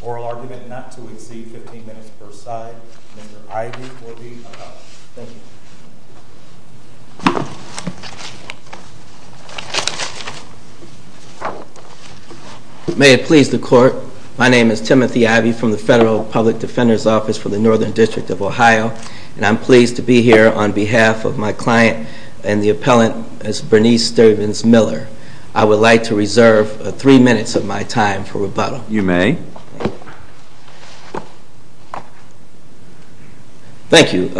Oral argument not to exceed 15 minutes per side, Mr. Ivey will be up. Thank you. May it please the court, my name is Timothy Ivey from the Federal Public Defender's Office for the Northern District of Ohio and I'm pleased to be here on behalf of my client and the appellant, Bernice Stephens Miller. I would like to reserve three minutes of my time for rebuttal. You may. Thank you.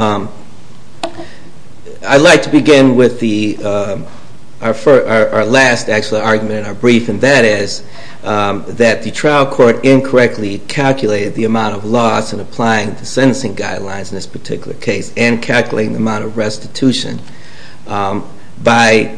I'd like to begin with our last argument in our brief and that is that the trial court incorrectly calculated the amount of loss in applying the sentencing guidelines in this particular case and calculating the amount of restitution by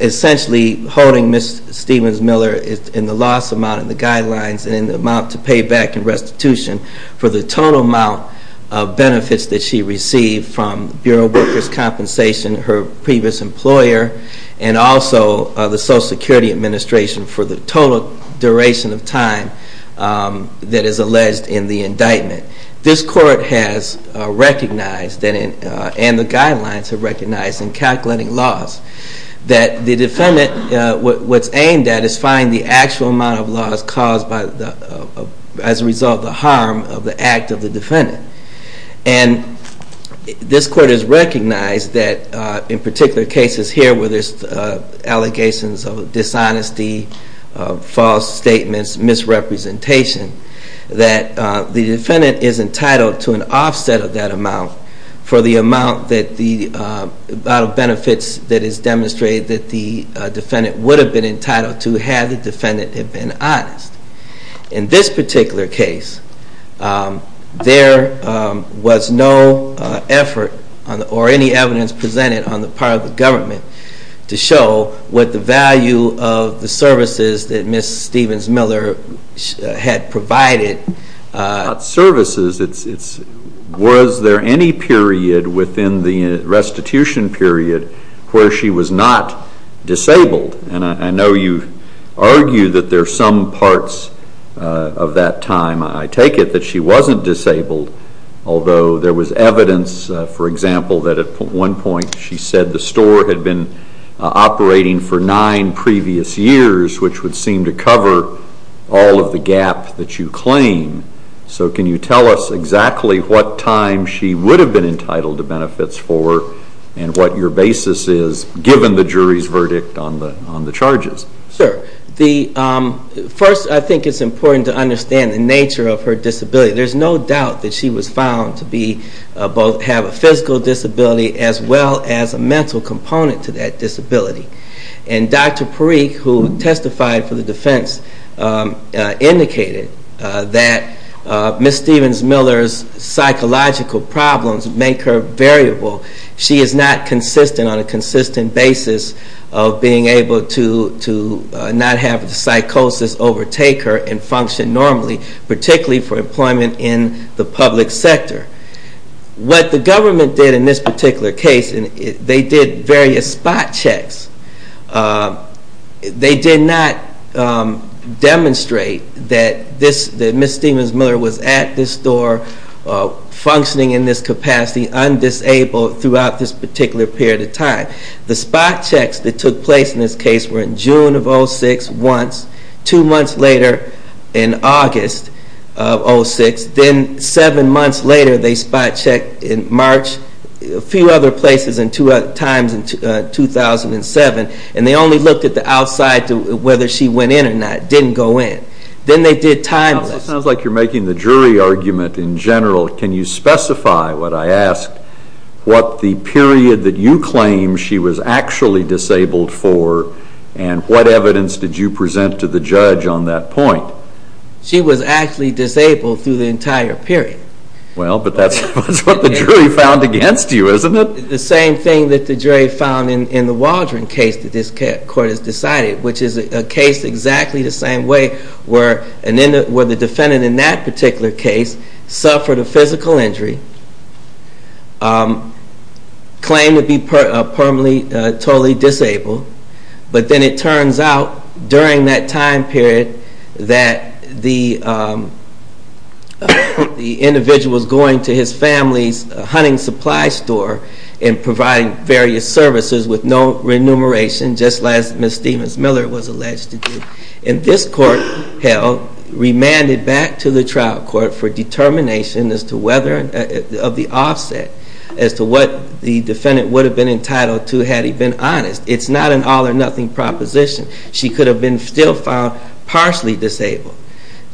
essentially holding Ms. Stephens Miller in the loss amount in the guidelines and in the amount to pay back in restitution for the total amount of benefits that she received from Bureau Workers' Compensation, her previous employer, and also the Social Security Administration for the total duration of time that is alleged in the indictment. This court has recognized and the guidelines have recognized in calculating loss that the defendant, what's aimed at is finding the actual amount of loss caused as a result of the harm of the act of the defendant and this court has recognized that in particular cases here where there's allegations of dishonesty, false statements, misrepresentation, that the defendant is entitled to an offset of that amount for the amount of benefits that is demonstrated that the defendant would have been entitled to if you had the defendant have been honest. In this particular case, there was no effort or any evidence presented on the part of the government to show what the value of the services that Ms. Stephens Miller had provided. About services, was there any period within the restitution period where she was not disabled? And I know you argue that there are some parts of that time, I take it, that she wasn't disabled, although there was evidence, for example, that at one point she said the store had been operating for nine previous years, which would seem to cover all of the gap that you claim. So can you tell us exactly what time she would have been entitled to benefits for and what your basis is, given the jury's verdict on the charges? First, I think it's important to understand the nature of her disability. There's no doubt that she was found to have a physical disability as well as a mental component to that disability. And Dr. Parikh, who testified for the defense, indicated that Ms. Stephens Miller's psychological problems make her variable. She is not consistent on a consistent basis of being able to not have psychosis overtake her and function normally, particularly for employment in the public sector. What the government did in this particular case, they did various spot checks. They did not demonstrate that Ms. Stephens Miller was at this store, functioning in this capacity, undisabled throughout this particular period of time. The spot checks that took place in this case were in June of 2006 once, two months later in August of 2006, then seven months later they spot checked in March, a few other places at times in 2007, and they only looked at the outside to whether she went in or not, didn't go in. Then they did time lists. It sounds like you're making the jury argument in general. Can you specify, what I ask, what the period that you claim she was actually disabled for and what evidence did you present to the judge on that point? She was actually disabled through the entire period. Well, but that's what the jury found against you, isn't it? The same thing that the jury found in the Waldron case that this court has decided, which is a case exactly the same way where the defendant in that particular case suffered a physical injury, claimed to be permanently totally disabled, but then it turns out during that time period that the individual was going to his family's hunting supply store and providing various services with no remuneration, just as Ms. Stephens Miller was alleged to do. And this court held, remanded back to the trial court for determination as to whether of the offset as to what the defendant would have been entitled to had he been honest. It's not an all or nothing proposition. She could have been still found partially disabled.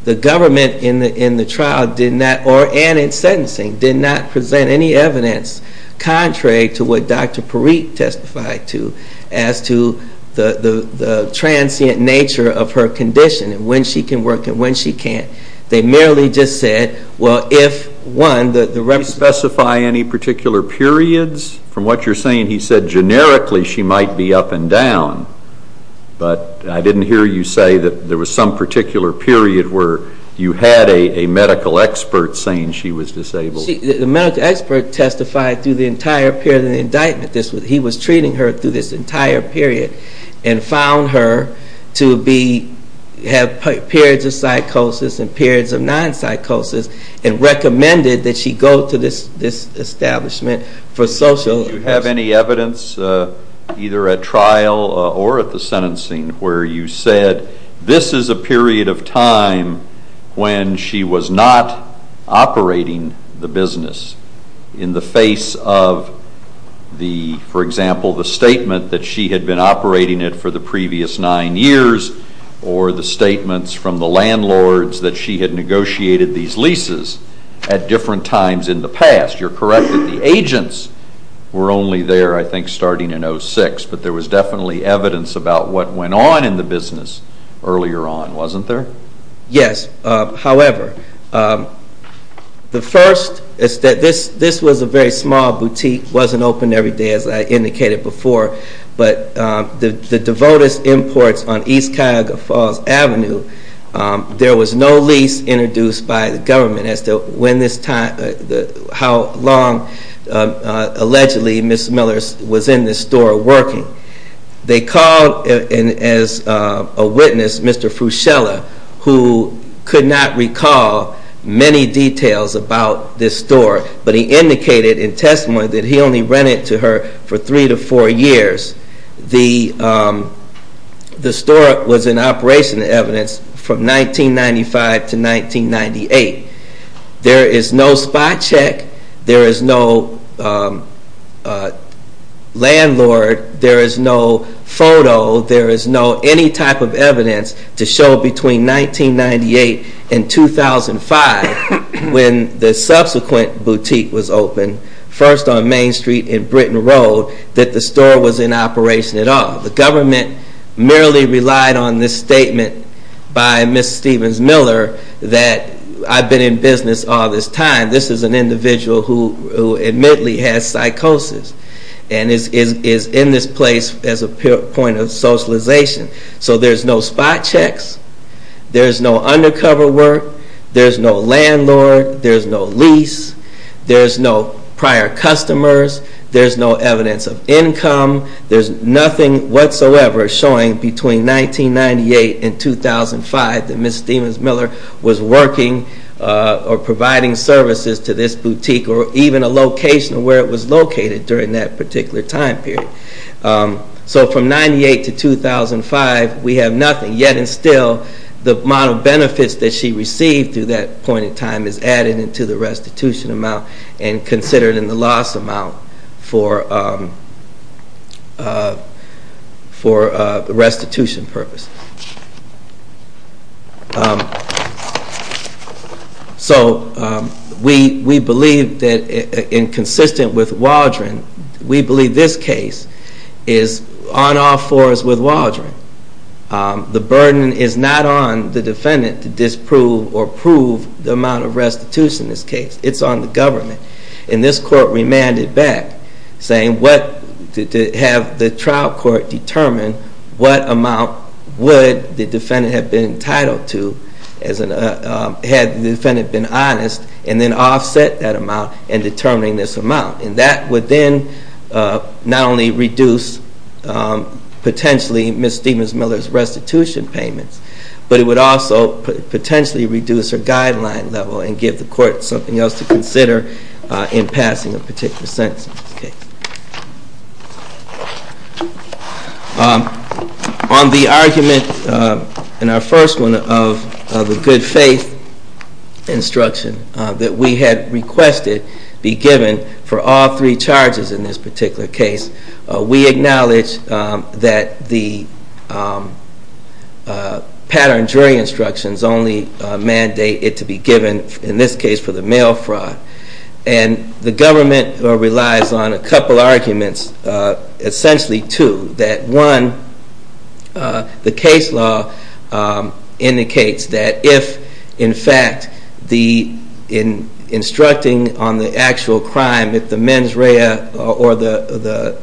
The government in the trial did not, and in sentencing, did not present any evidence contrary to what Dr. Parikh testified to as to the transient nature of her condition and when she can work and when she can't. They merely just said, well, if, one, the... Did he specify any particular periods? From what you're saying, he said generically she might be up and down, but I didn't hear you say that there was some particular period where you had a medical expert saying she was disabled. The medical expert testified through the entire period of the indictment. He was treating her through this entire period and found her to have periods of psychosis and periods of non-psychosis and recommended that she go to this establishment for social... Did you have any evidence either at trial or at the sentencing where you said this is a period of time when she was not operating the business in the face of the, for example, the statement that she had been operating it for the previous nine years or the statements from the landlords that she had negotiated these leases at different times in the past? You're correct that the agents were only there, I think, starting in 06, but there was definitely evidence about what went on in the business earlier on, wasn't there? Yes, however, the first is that this was a very small boutique. It wasn't open every day, as I indicated before, but the DeVotis Imports on East Cuyahoga Falls Avenue, there was no lease introduced by the government as to when this time, how long, allegedly, Ms. Miller was in this store working. They called as a witness, Mr. Fruscella, who could not recall many details about this store, but he indicated in testimony that he only rented it to her for three to four years. The store was in operation, the evidence, from 1995 to 1998. There is no spot check, there is no landlord, there is no photo, there is no any type of evidence to show between 1998 and 2005 when the subsequent boutique was opened, first on Main Street and Britton Road, that the store was in operation at all. The government merely relied on this statement by Ms. Stevens Miller that I've been in business all this time, this is an individual who admittedly has psychosis and is in this place as a point of socialization. So there's no spot checks, there's no undercover work, there's no landlord, there's no lease, there's no prior customers, there's no evidence of income, there's nothing whatsoever showing between 1998 and 2005 that Ms. Stevens Miller was working or providing services to this boutique or even a location of where it was located during that particular time period. So from 1998 to 2005 we have nothing, yet and still the amount of benefits that she received through that point in time is added into the restitution amount and considered in the loss amount for restitution purpose. So we believe that in consistent with Waldron, we believe this case is on all fours with Waldron. The burden is not on the defendant to disprove or prove the amount of restitution in this case, it's on the government. And this court remanded back saying to have the trial court determine what amount would the defendant have been entitled to had the defendant been honest and then offset that amount in determining this amount. And that would then not only reduce potentially Ms. Stevens Miller's restitution payments, but it would also potentially reduce her guideline level and give the court something else to consider in passing a particular sentence. On the argument in our first one of the good faith instruction that we had requested be given for all three charges in this particular case, we acknowledge that the pattern jury instructions only mandate it to be given, in this case for the mail fraud. And the government relies on a couple arguments, essentially two. That one, the case law indicates that if in fact the instructing on the actual crime, if the mens rea or the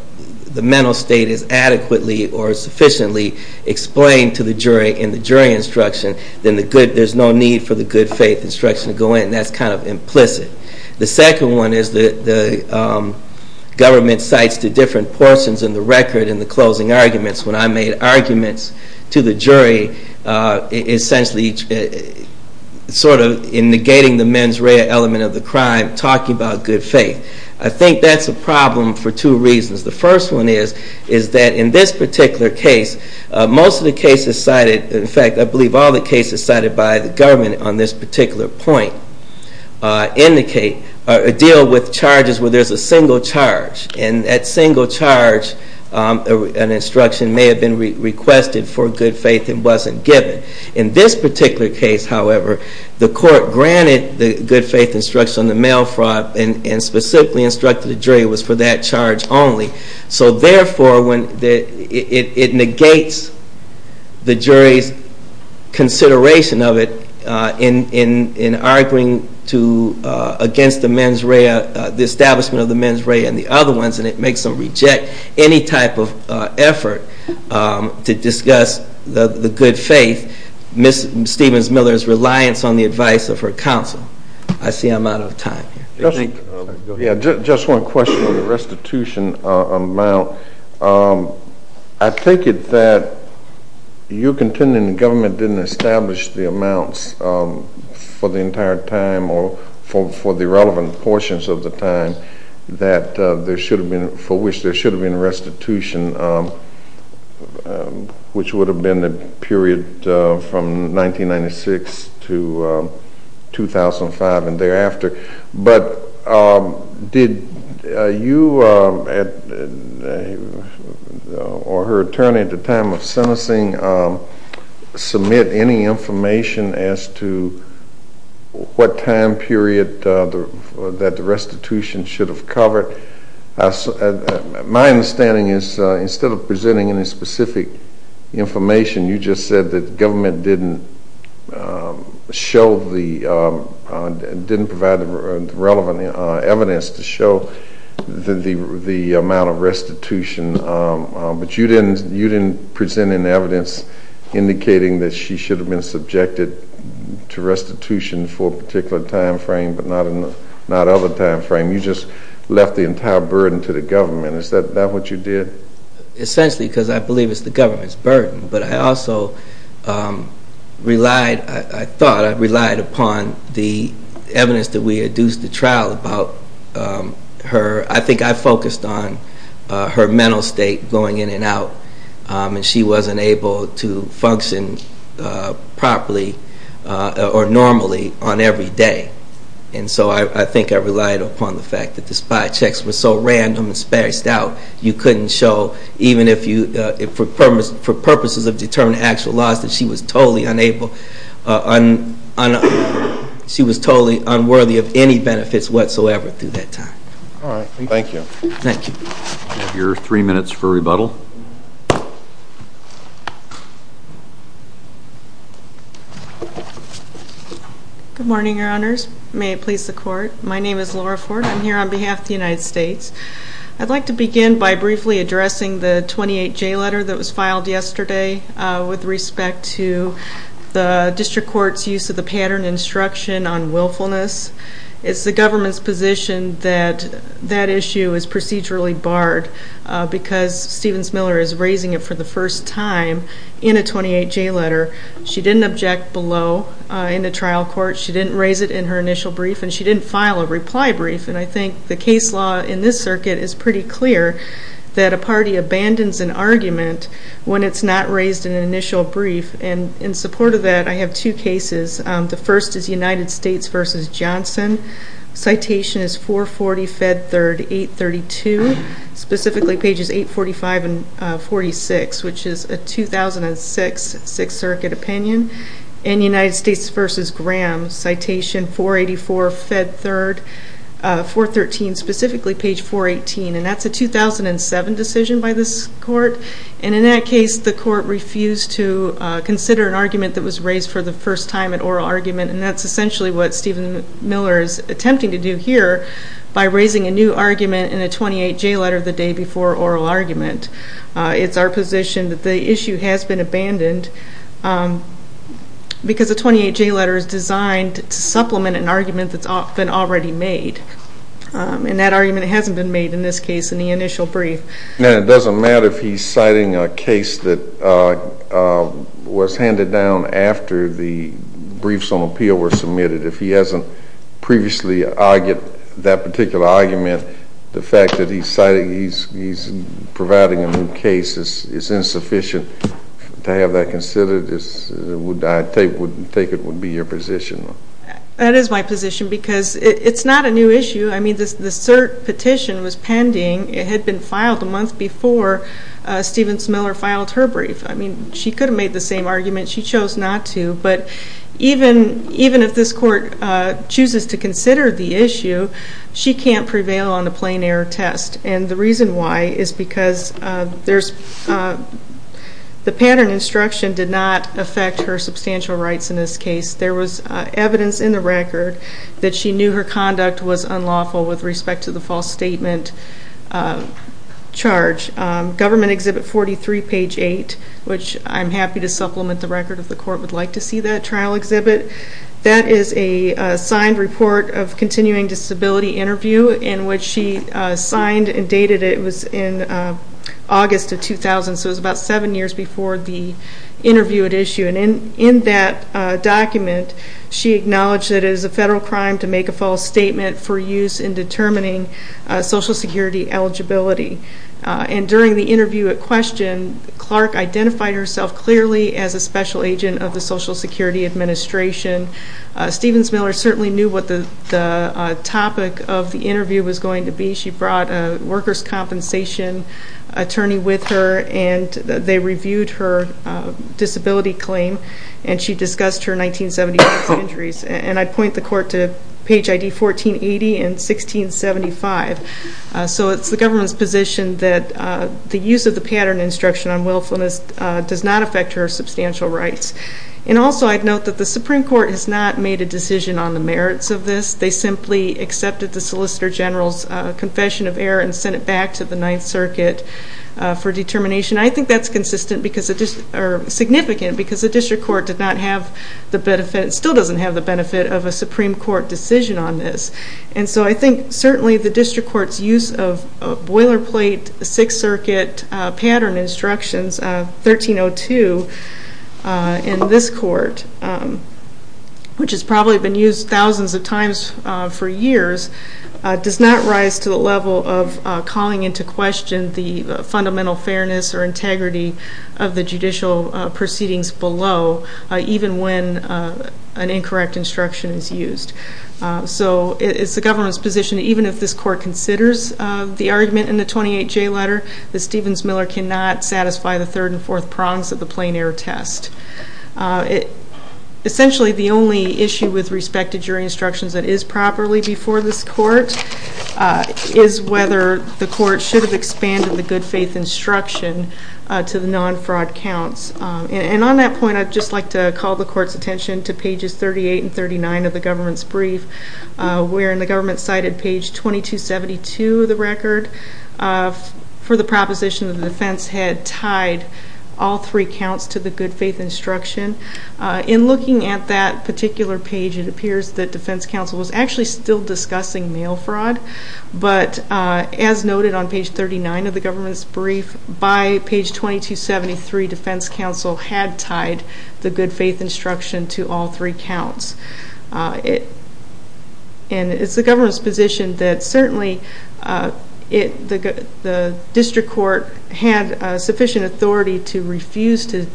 mental state is adequately or sufficiently explained to the jury in the jury instruction, then there's no need for the good faith instruction to go in. And that's kind of implicit. The second one is that the government cites the different portions in the record in the closing arguments. When I made arguments to the jury, essentially sort of in negating the mens rea element of the crime, talking about good faith. I think that's a problem for two reasons. The first one is that in this particular case, most of the cases cited, in fact I believe all the cases cited by the government on this particular point, deal with charges where there's a single charge. And that single charge, an instruction may have been requested for good faith and wasn't given. In this particular case, however, the court granted the good faith instruction on the mail fraud and specifically instructed the jury it was for that charge only. So therefore, it negates the jury's consideration of it in arguing against the mens rea, the establishment of the mens rea and the other ones and it makes them reject any type of effort to discuss the good faith. Ms. Stevens Miller's reliance on the advice of her counsel. I see I'm out of time. Just one question on the restitution amount. I take it that you're contending the government didn't establish the amounts for the entire time or for the relevant portions of the time that there should have been, for which there should have been restitution, which would have been the period from 1996 to 2005 and thereafter. But did you or her attorney at the time of sentencing submit any information as to what time period that the restitution should have covered? My understanding is instead of presenting any specific information, you just said that the government didn't show the, didn't provide the relevant evidence to show the amount of restitution. But you didn't present any evidence indicating that she should have been subjected to restitution for a particular time frame but not other time frame. You just left the entire burden to the government. Is that what you did? Essentially because I believe it's the government's burden but I also relied, I thought I relied upon the evidence that we had used to trial about her. I think I focused on her mental state going in and out and she wasn't able to function properly or normally on every day. And so I think I relied upon the fact that the spy checks were so random and spaced out you couldn't show even if you, for purposes of determining actual loss that she was totally unable, she was totally unworthy of any benefits whatsoever through that time. Alright, thank you. Thank you. Good morning your honors. May it please the court. My name is Laura Ford. I'm here on behalf of the United States. I'd like to begin by briefly addressing the 28J letter that was filed yesterday with respect to the district court's use of the pattern instruction on willfulness. It's the government's position that that issue is procedurally barred because Stevens Miller is raising it for the first time in a 28J letter. She didn't object below in the trial court. She didn't raise it in her initial brief and she didn't file a reply brief and I think the case law in this circuit is pretty clear that a party abandons an argument when it's not raised in an initial brief. And in support of that I have two cases. The first is United States v. Johnson. Citation is 440 Fed 3rd 832 specifically pages 845 and 46 which is a 2006 6th circuit opinion. And United States v. Graham citation 484 Fed 3rd 413 specifically page 418 and that's a 2007 decision by this court. And in that case the court refused to consider an argument that was raised for the first time at oral argument and that's essentially what Stevens Miller is attempting to do here by raising a new argument in a 28J letter the day before oral argument. It's our position that the issue has been abandoned because a 28J letter is designed to supplement an argument that's been already made and that argument hasn't been made in this case in the initial brief. And it doesn't matter if he's citing a case that was handed down after the briefs on appeal were submitted. If he hasn't previously argued that particular argument the fact that he's providing a new case is insufficient to have that considered. I take it would be your position. That is my position because it's not a new issue. I mean the cert petition was pending. It had been filed a month before Stevens Miller filed her brief. I mean she could have made the same argument. She chose not to but even if this court chooses to consider the issue she can't prevail on a plain error test. And the reason why is because the pattern instruction did not affect her substantial rights in this case. There was evidence in the record that she knew her conduct was unlawful with respect to the false statement charge. Government Exhibit 43 page 8 which I'm happy to supplement the record if the court would like to see that trial exhibit. That is a signed report of continuing disability interview in which she signed and dated it. It was in August of 2000 so it was about 7 years before the interview at issue. And in that document she acknowledged that it is a federal crime to make a false statement for use in determining social security eligibility. And during the interview at question Clark identified herself clearly as a special agent of the Social Security Administration. Stevens Miller certainly knew what the topic of the interview was going to be. She brought a workers compensation attorney with her and they reviewed her disability claim and she discussed her 1976 injuries. And I point the court to page ID 1480 and 1675. So it's the government's position that the use of the pattern instruction on willfulness does not affect her substantial rights. And also I'd note that the Supreme Court has not made a decision on the merits of this. They simply accepted the Solicitor General's confession of error and sent it back to the 9th Circuit for determination. I think that's significant because the District Court still doesn't have the benefit of a Supreme Court decision on this. And so I think certainly the District Court's use of boilerplate 6th Circuit pattern instructions 1302 in this court, which has probably been used thousands of times for years, does not rise to the level of calling into question the fundamental fairness or integrity of the Supreme Court. of the judicial proceedings below, even when an incorrect instruction is used. So it's the government's position that even if this court considers the argument in the 28J letter, that Stevens Miller cannot satisfy the third and fourth prongs of the plain error test. Essentially the only issue with respect to jury instructions that is properly before this court is whether the court should have expanded the good faith instruction to the non-fraud counts. And on that point I'd just like to call the court's attention to pages 38 and 39 of the government's brief, wherein the government cited page 2272 of the record for the proposition that the defense had tied all three counts to the good faith instruction. In looking at that particular page it appears that defense counsel was actually still discussing mail fraud, but as noted on page 39 of the government's brief, by page 2273 defense counsel had tied the good faith instruction to all three counts. And it's the government's position that certainly the district court had sufficient authority to refuse to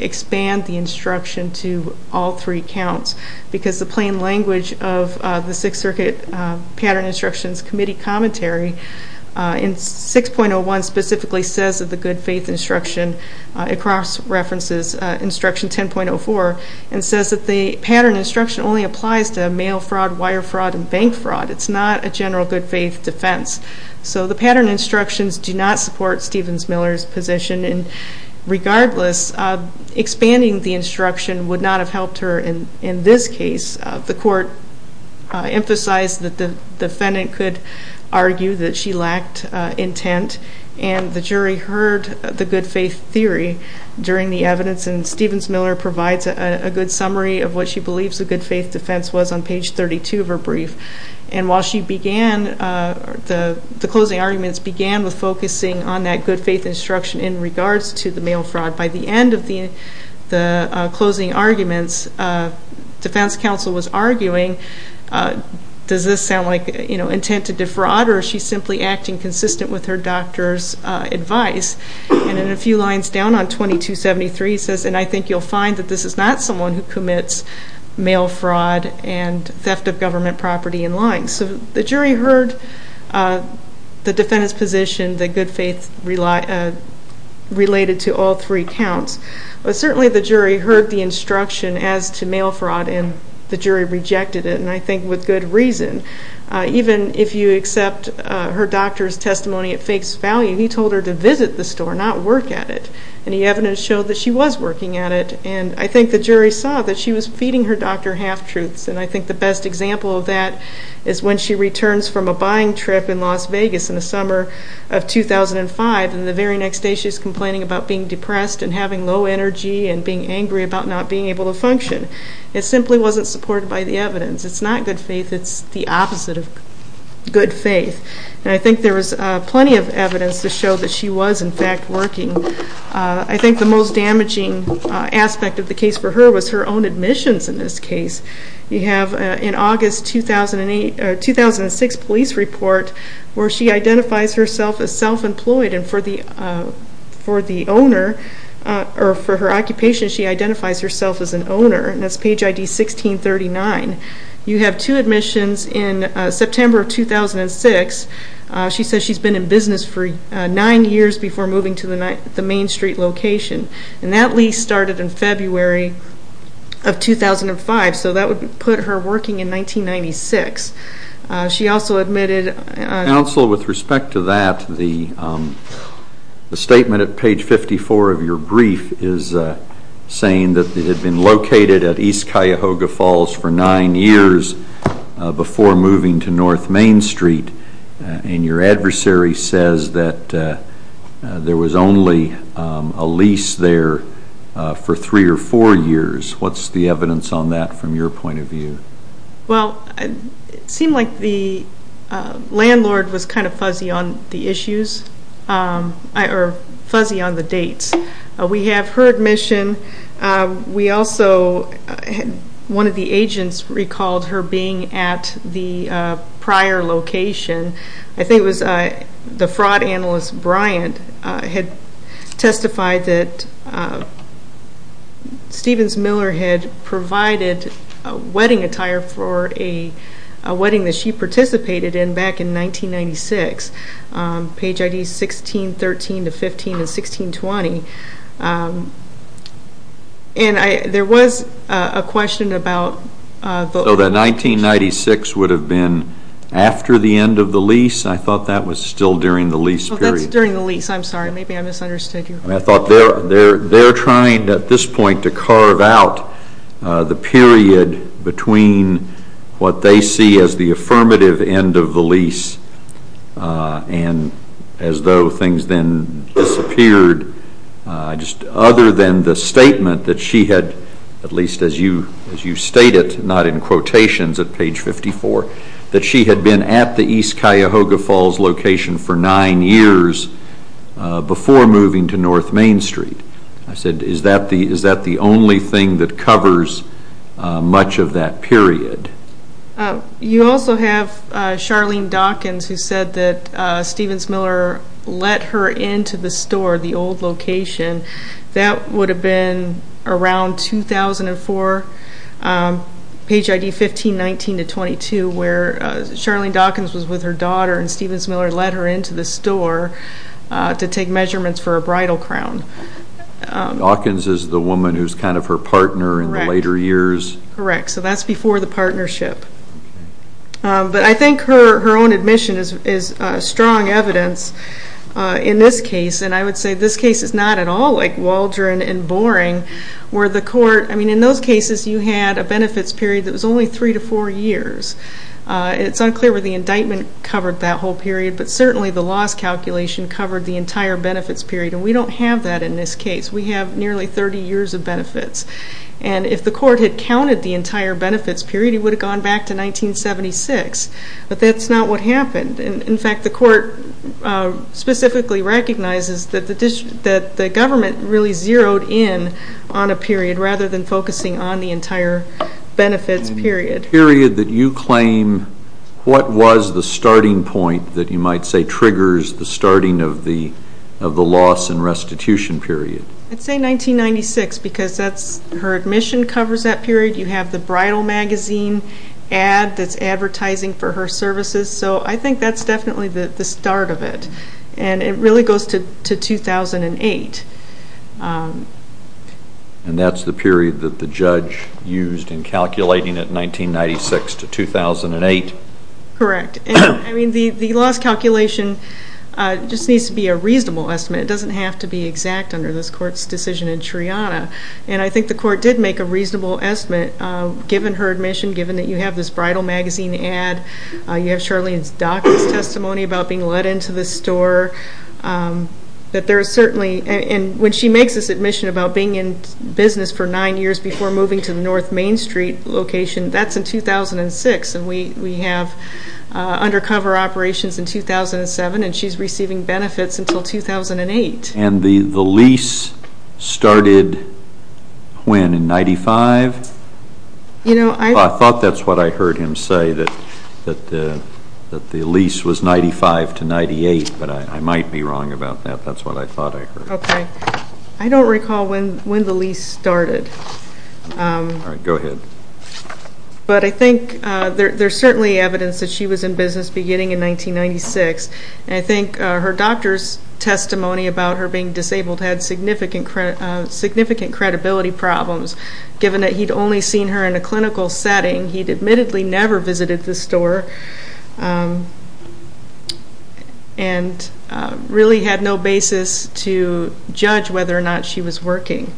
expand the instruction to all three counts, because the plain language of the Sixth Circuit Pattern Instructions Committee commentary in 6.01 specifically says that the good faith instruction, across references, instruction 10.04, and says that the pattern instruction only applies to mail fraud, wire fraud, and bank fraud. It's not a general good faith defense. So the pattern instructions do not support Stevens Miller's position, and regardless, expanding the instruction would not have helped her in this case. The court emphasized that the defendant could argue that she lacked intent, and the jury heard the good faith theory during the evidence, and Stevens Miller provides a good summary of what she believes the good faith defense was on page 32 of her brief. And while she began, the closing arguments began with focusing on that good faith instruction in regards to the mail fraud, by the end of the closing arguments defense counsel was arguing, does this sound like intent to defraud, or is she simply acting consistent with her doctor's advice? And a few lines down on 2273 says, and I think you'll find that this is not someone who commits mail fraud and theft of government property in line. So the jury heard the defendant's position that good faith related to all three counts, but certainly the jury heard the instruction as to mail fraud and the jury rejected it, and I think with good reason. Even if you accept her doctor's testimony at face value, he told her to visit the store, not work at it, and the evidence showed that she was working at it, and I think the jury saw that she was feeding her doctor half-truths, and I think the best example of that is when she returns from a buying trip in Las Vegas in the summer of 2005, and the very next day she's complaining about being depressed and having low energy and being angry about not being able to function. It simply wasn't supported by the evidence. It's not good faith, it's the opposite of good faith, and I think there was plenty of evidence to show that she was in fact working. I think the most damaging aspect of the case for her was her own admissions in this case. You have in August 2006 police report where she identifies herself as self-employed, and for her occupation she identifies herself as an owner, and that's page ID 1639. You have two admissions in September of 2006. She says she's been in business for nine years before moving to the Main Street location, and that lease started in February of 2005, so that would put her working in 1996. She also admitted... Counsel, with respect to that, the statement at page 54 of your brief is saying that it had been located at East Cuyahoga Falls for nine years before moving to North Main Street, and your adversary says that there was only a lease there for three or four years. What's the evidence on that from your point of view? Well, it seemed like the landlord was kind of fuzzy on the issues, or fuzzy on the dates. We have her admission. One of the agents recalled her being at the prior location. I think it was the fraud analyst, Bryant, had testified that Stevens-Miller had provided wedding attire for a wedding that she participated in back in 1996, page ID 1613-15 and 1620, and there was a question about... So that 1996 would have been after the end of the lease? I thought that was still during the lease period. Oh, that's during the lease. I'm sorry. Maybe I misunderstood you. I thought they're trying at this point to carve out the period between what they see as the affirmative end of the lease and as though things then disappeared. Other than the statement that she had, at least as you stated, not in quotations at page 54, that she had been at the East Cuyahoga Falls location for nine years before moving to North Main Street. I said, is that the only thing that covers much of that period? You also have Charlene Dawkins who said that Stevens-Miller let her into the store, the old location. That would have been around 2004, page ID 1519-22, where Charlene Dawkins was with her daughter and Stevens-Miller let her into the store to take measurements for a bridal crown. Dawkins is the woman who's kind of her partner in the later years? Correct. So that's before the partnership. But I think her own admission is strong evidence in this case, and I would say this case is not at all like Waldron and Boring. In those cases, you had a benefits period that was only three to four years. It's unclear whether the indictment covered that whole period, but certainly the loss calculation covered the entire benefits period, and we don't have that in this case. We have nearly 30 years of benefits. And if the court had counted the entire benefits period, it would have gone back to 1976. But that's not what happened. In fact, the court specifically recognizes that the government really zeroed in on a period rather than focusing on the entire benefits period. The period that you claim, what was the starting point that you might say triggers the starting of the loss and restitution period? I'd say 1996, because her admission covers that period. You have the bridal magazine ad that's advertising for her services. So I think that's definitely the start of it. And it really goes to 2008. And that's the period that the judge used in calculating it, 1996 to 2008? Correct. I mean, the loss calculation just needs to be a reasonable estimate. It doesn't have to be exact under this court's decision in Triana. And I think the court did make a reasonable estimate, given her admission, given that you have this bridal magazine ad, you have Charlene's doctor's testimony about being let into the store. And when she makes this admission about being in business for nine years before moving to the North Main Street location, that's in 2006. And we have undercover operations in 2007, and she's receiving benefits until 2008. And the lease started when, in 95? I thought that's what I heard him say, that the lease was 95 to 98, but I might be wrong about that. That's what I thought I heard. Okay. I don't recall when the lease started. All right. Go ahead. But I think there's certainly evidence that she was in business beginning in 1996. And I think her doctor's testimony about her being disabled had significant credibility problems, given that he'd only seen her in a clinical setting. He'd admittedly never visited the store, and really had no basis to judge whether or not she was working.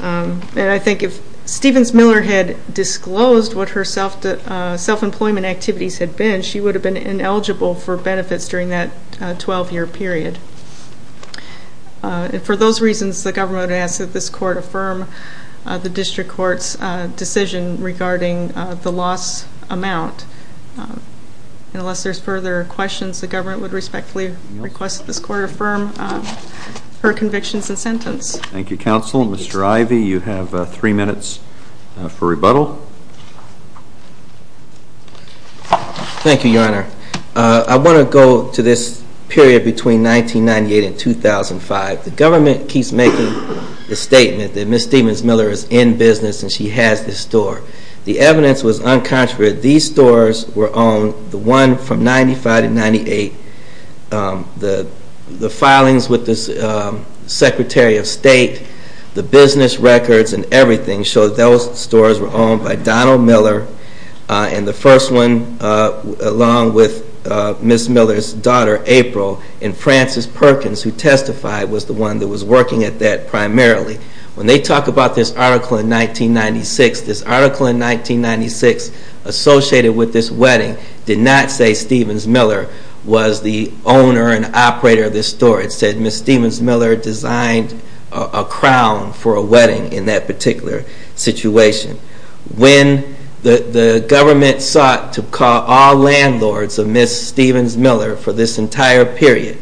And I think if Stevens-Miller had disclosed what her self-employment activities had been, she would have been ineligible for benefits during that 12-year period. And for those reasons, the government would ask that this Court affirm the District Court's decision regarding the loss amount. And unless there's further questions, the government would respectfully request that this Court affirm her convictions and sentence. Thank you, Counsel. Mr. Ivey, you have three minutes for rebuttal. Thank you, Your Honor. I want to go to this period between 1998 and 2005. The government keeps making the statement that Ms. Stevens-Miller is in business and she has this store. And the first one, along with Ms. Miller's daughter, April, and Francis Perkins, who testified, was the one that was working at that primarily. When they talk about this article in 1996, this article in 1996 associated with this wedding did not say Stevens-Miller was the owner and operator of this store. It said Ms. Stevens-Miller designed a crown for a wedding in that particular situation. When the government sought to call all landlords of Ms. Stevens-Miller for this entire period,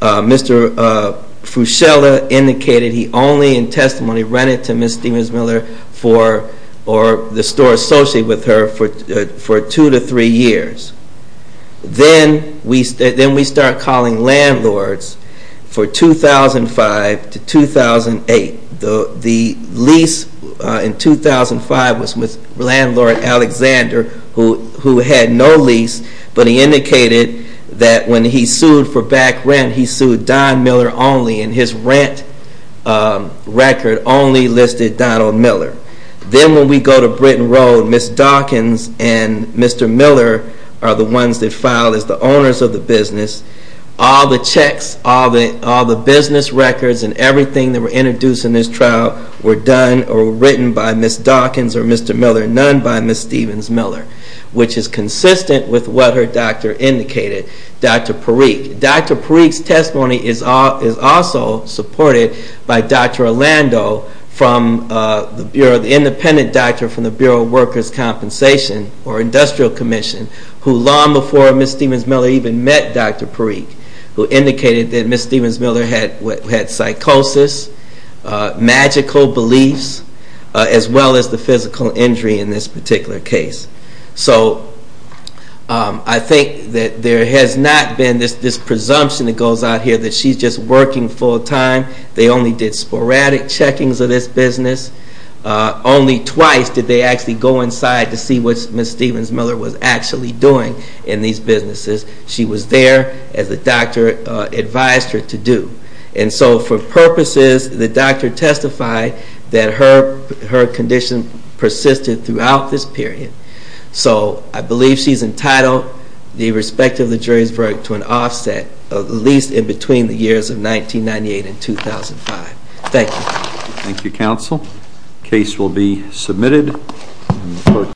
Mr. Fuscella indicated he only in testimony rented to Ms. Stevens-Miller or the store associated with her for two to three years. Then we start calling landlords for 2005 to 2008. The lease in 2005 was with landlord Alexander, who had no lease, but he indicated that when he sued for back rent, he sued Don Miller only. And his rent record only listed Donald Miller. Then when we go to Britton Road, Ms. Dawkins and Mr. Miller are the ones that filed as the owners of the business. All the checks, all the business records and everything that were introduced in this trial were done or written by Ms. Dawkins or Mr. Miller, none by Ms. Stevens-Miller, which is consistent with what her doctor indicated, Dr. Parikh. Dr. Parikh's testimony is also supported by Dr. Orlando, the independent doctor from the Bureau of Workers' Compensation or Industrial Commission, who long before Ms. Stevens-Miller even met Dr. Parikh, who indicated that Ms. Stevens-Miller had psychosis, magical beliefs, as well as the physical injury in this particular case. So I think that there has not been this presumption that goes out here that she's just working full time. They only did sporadic checkings of this business. Only twice did they actually go inside to see what Ms. Stevens-Miller was actually doing in these businesses. She was there as the doctor advised her to do. And so for purposes, the doctor testified that her condition persisted throughout this period. So I believe she's entitled, irrespective of the jury's verdict, to an offset, at least in between the years of 1998 and 2005. Thank you. Thank you, counsel. The case will be submitted.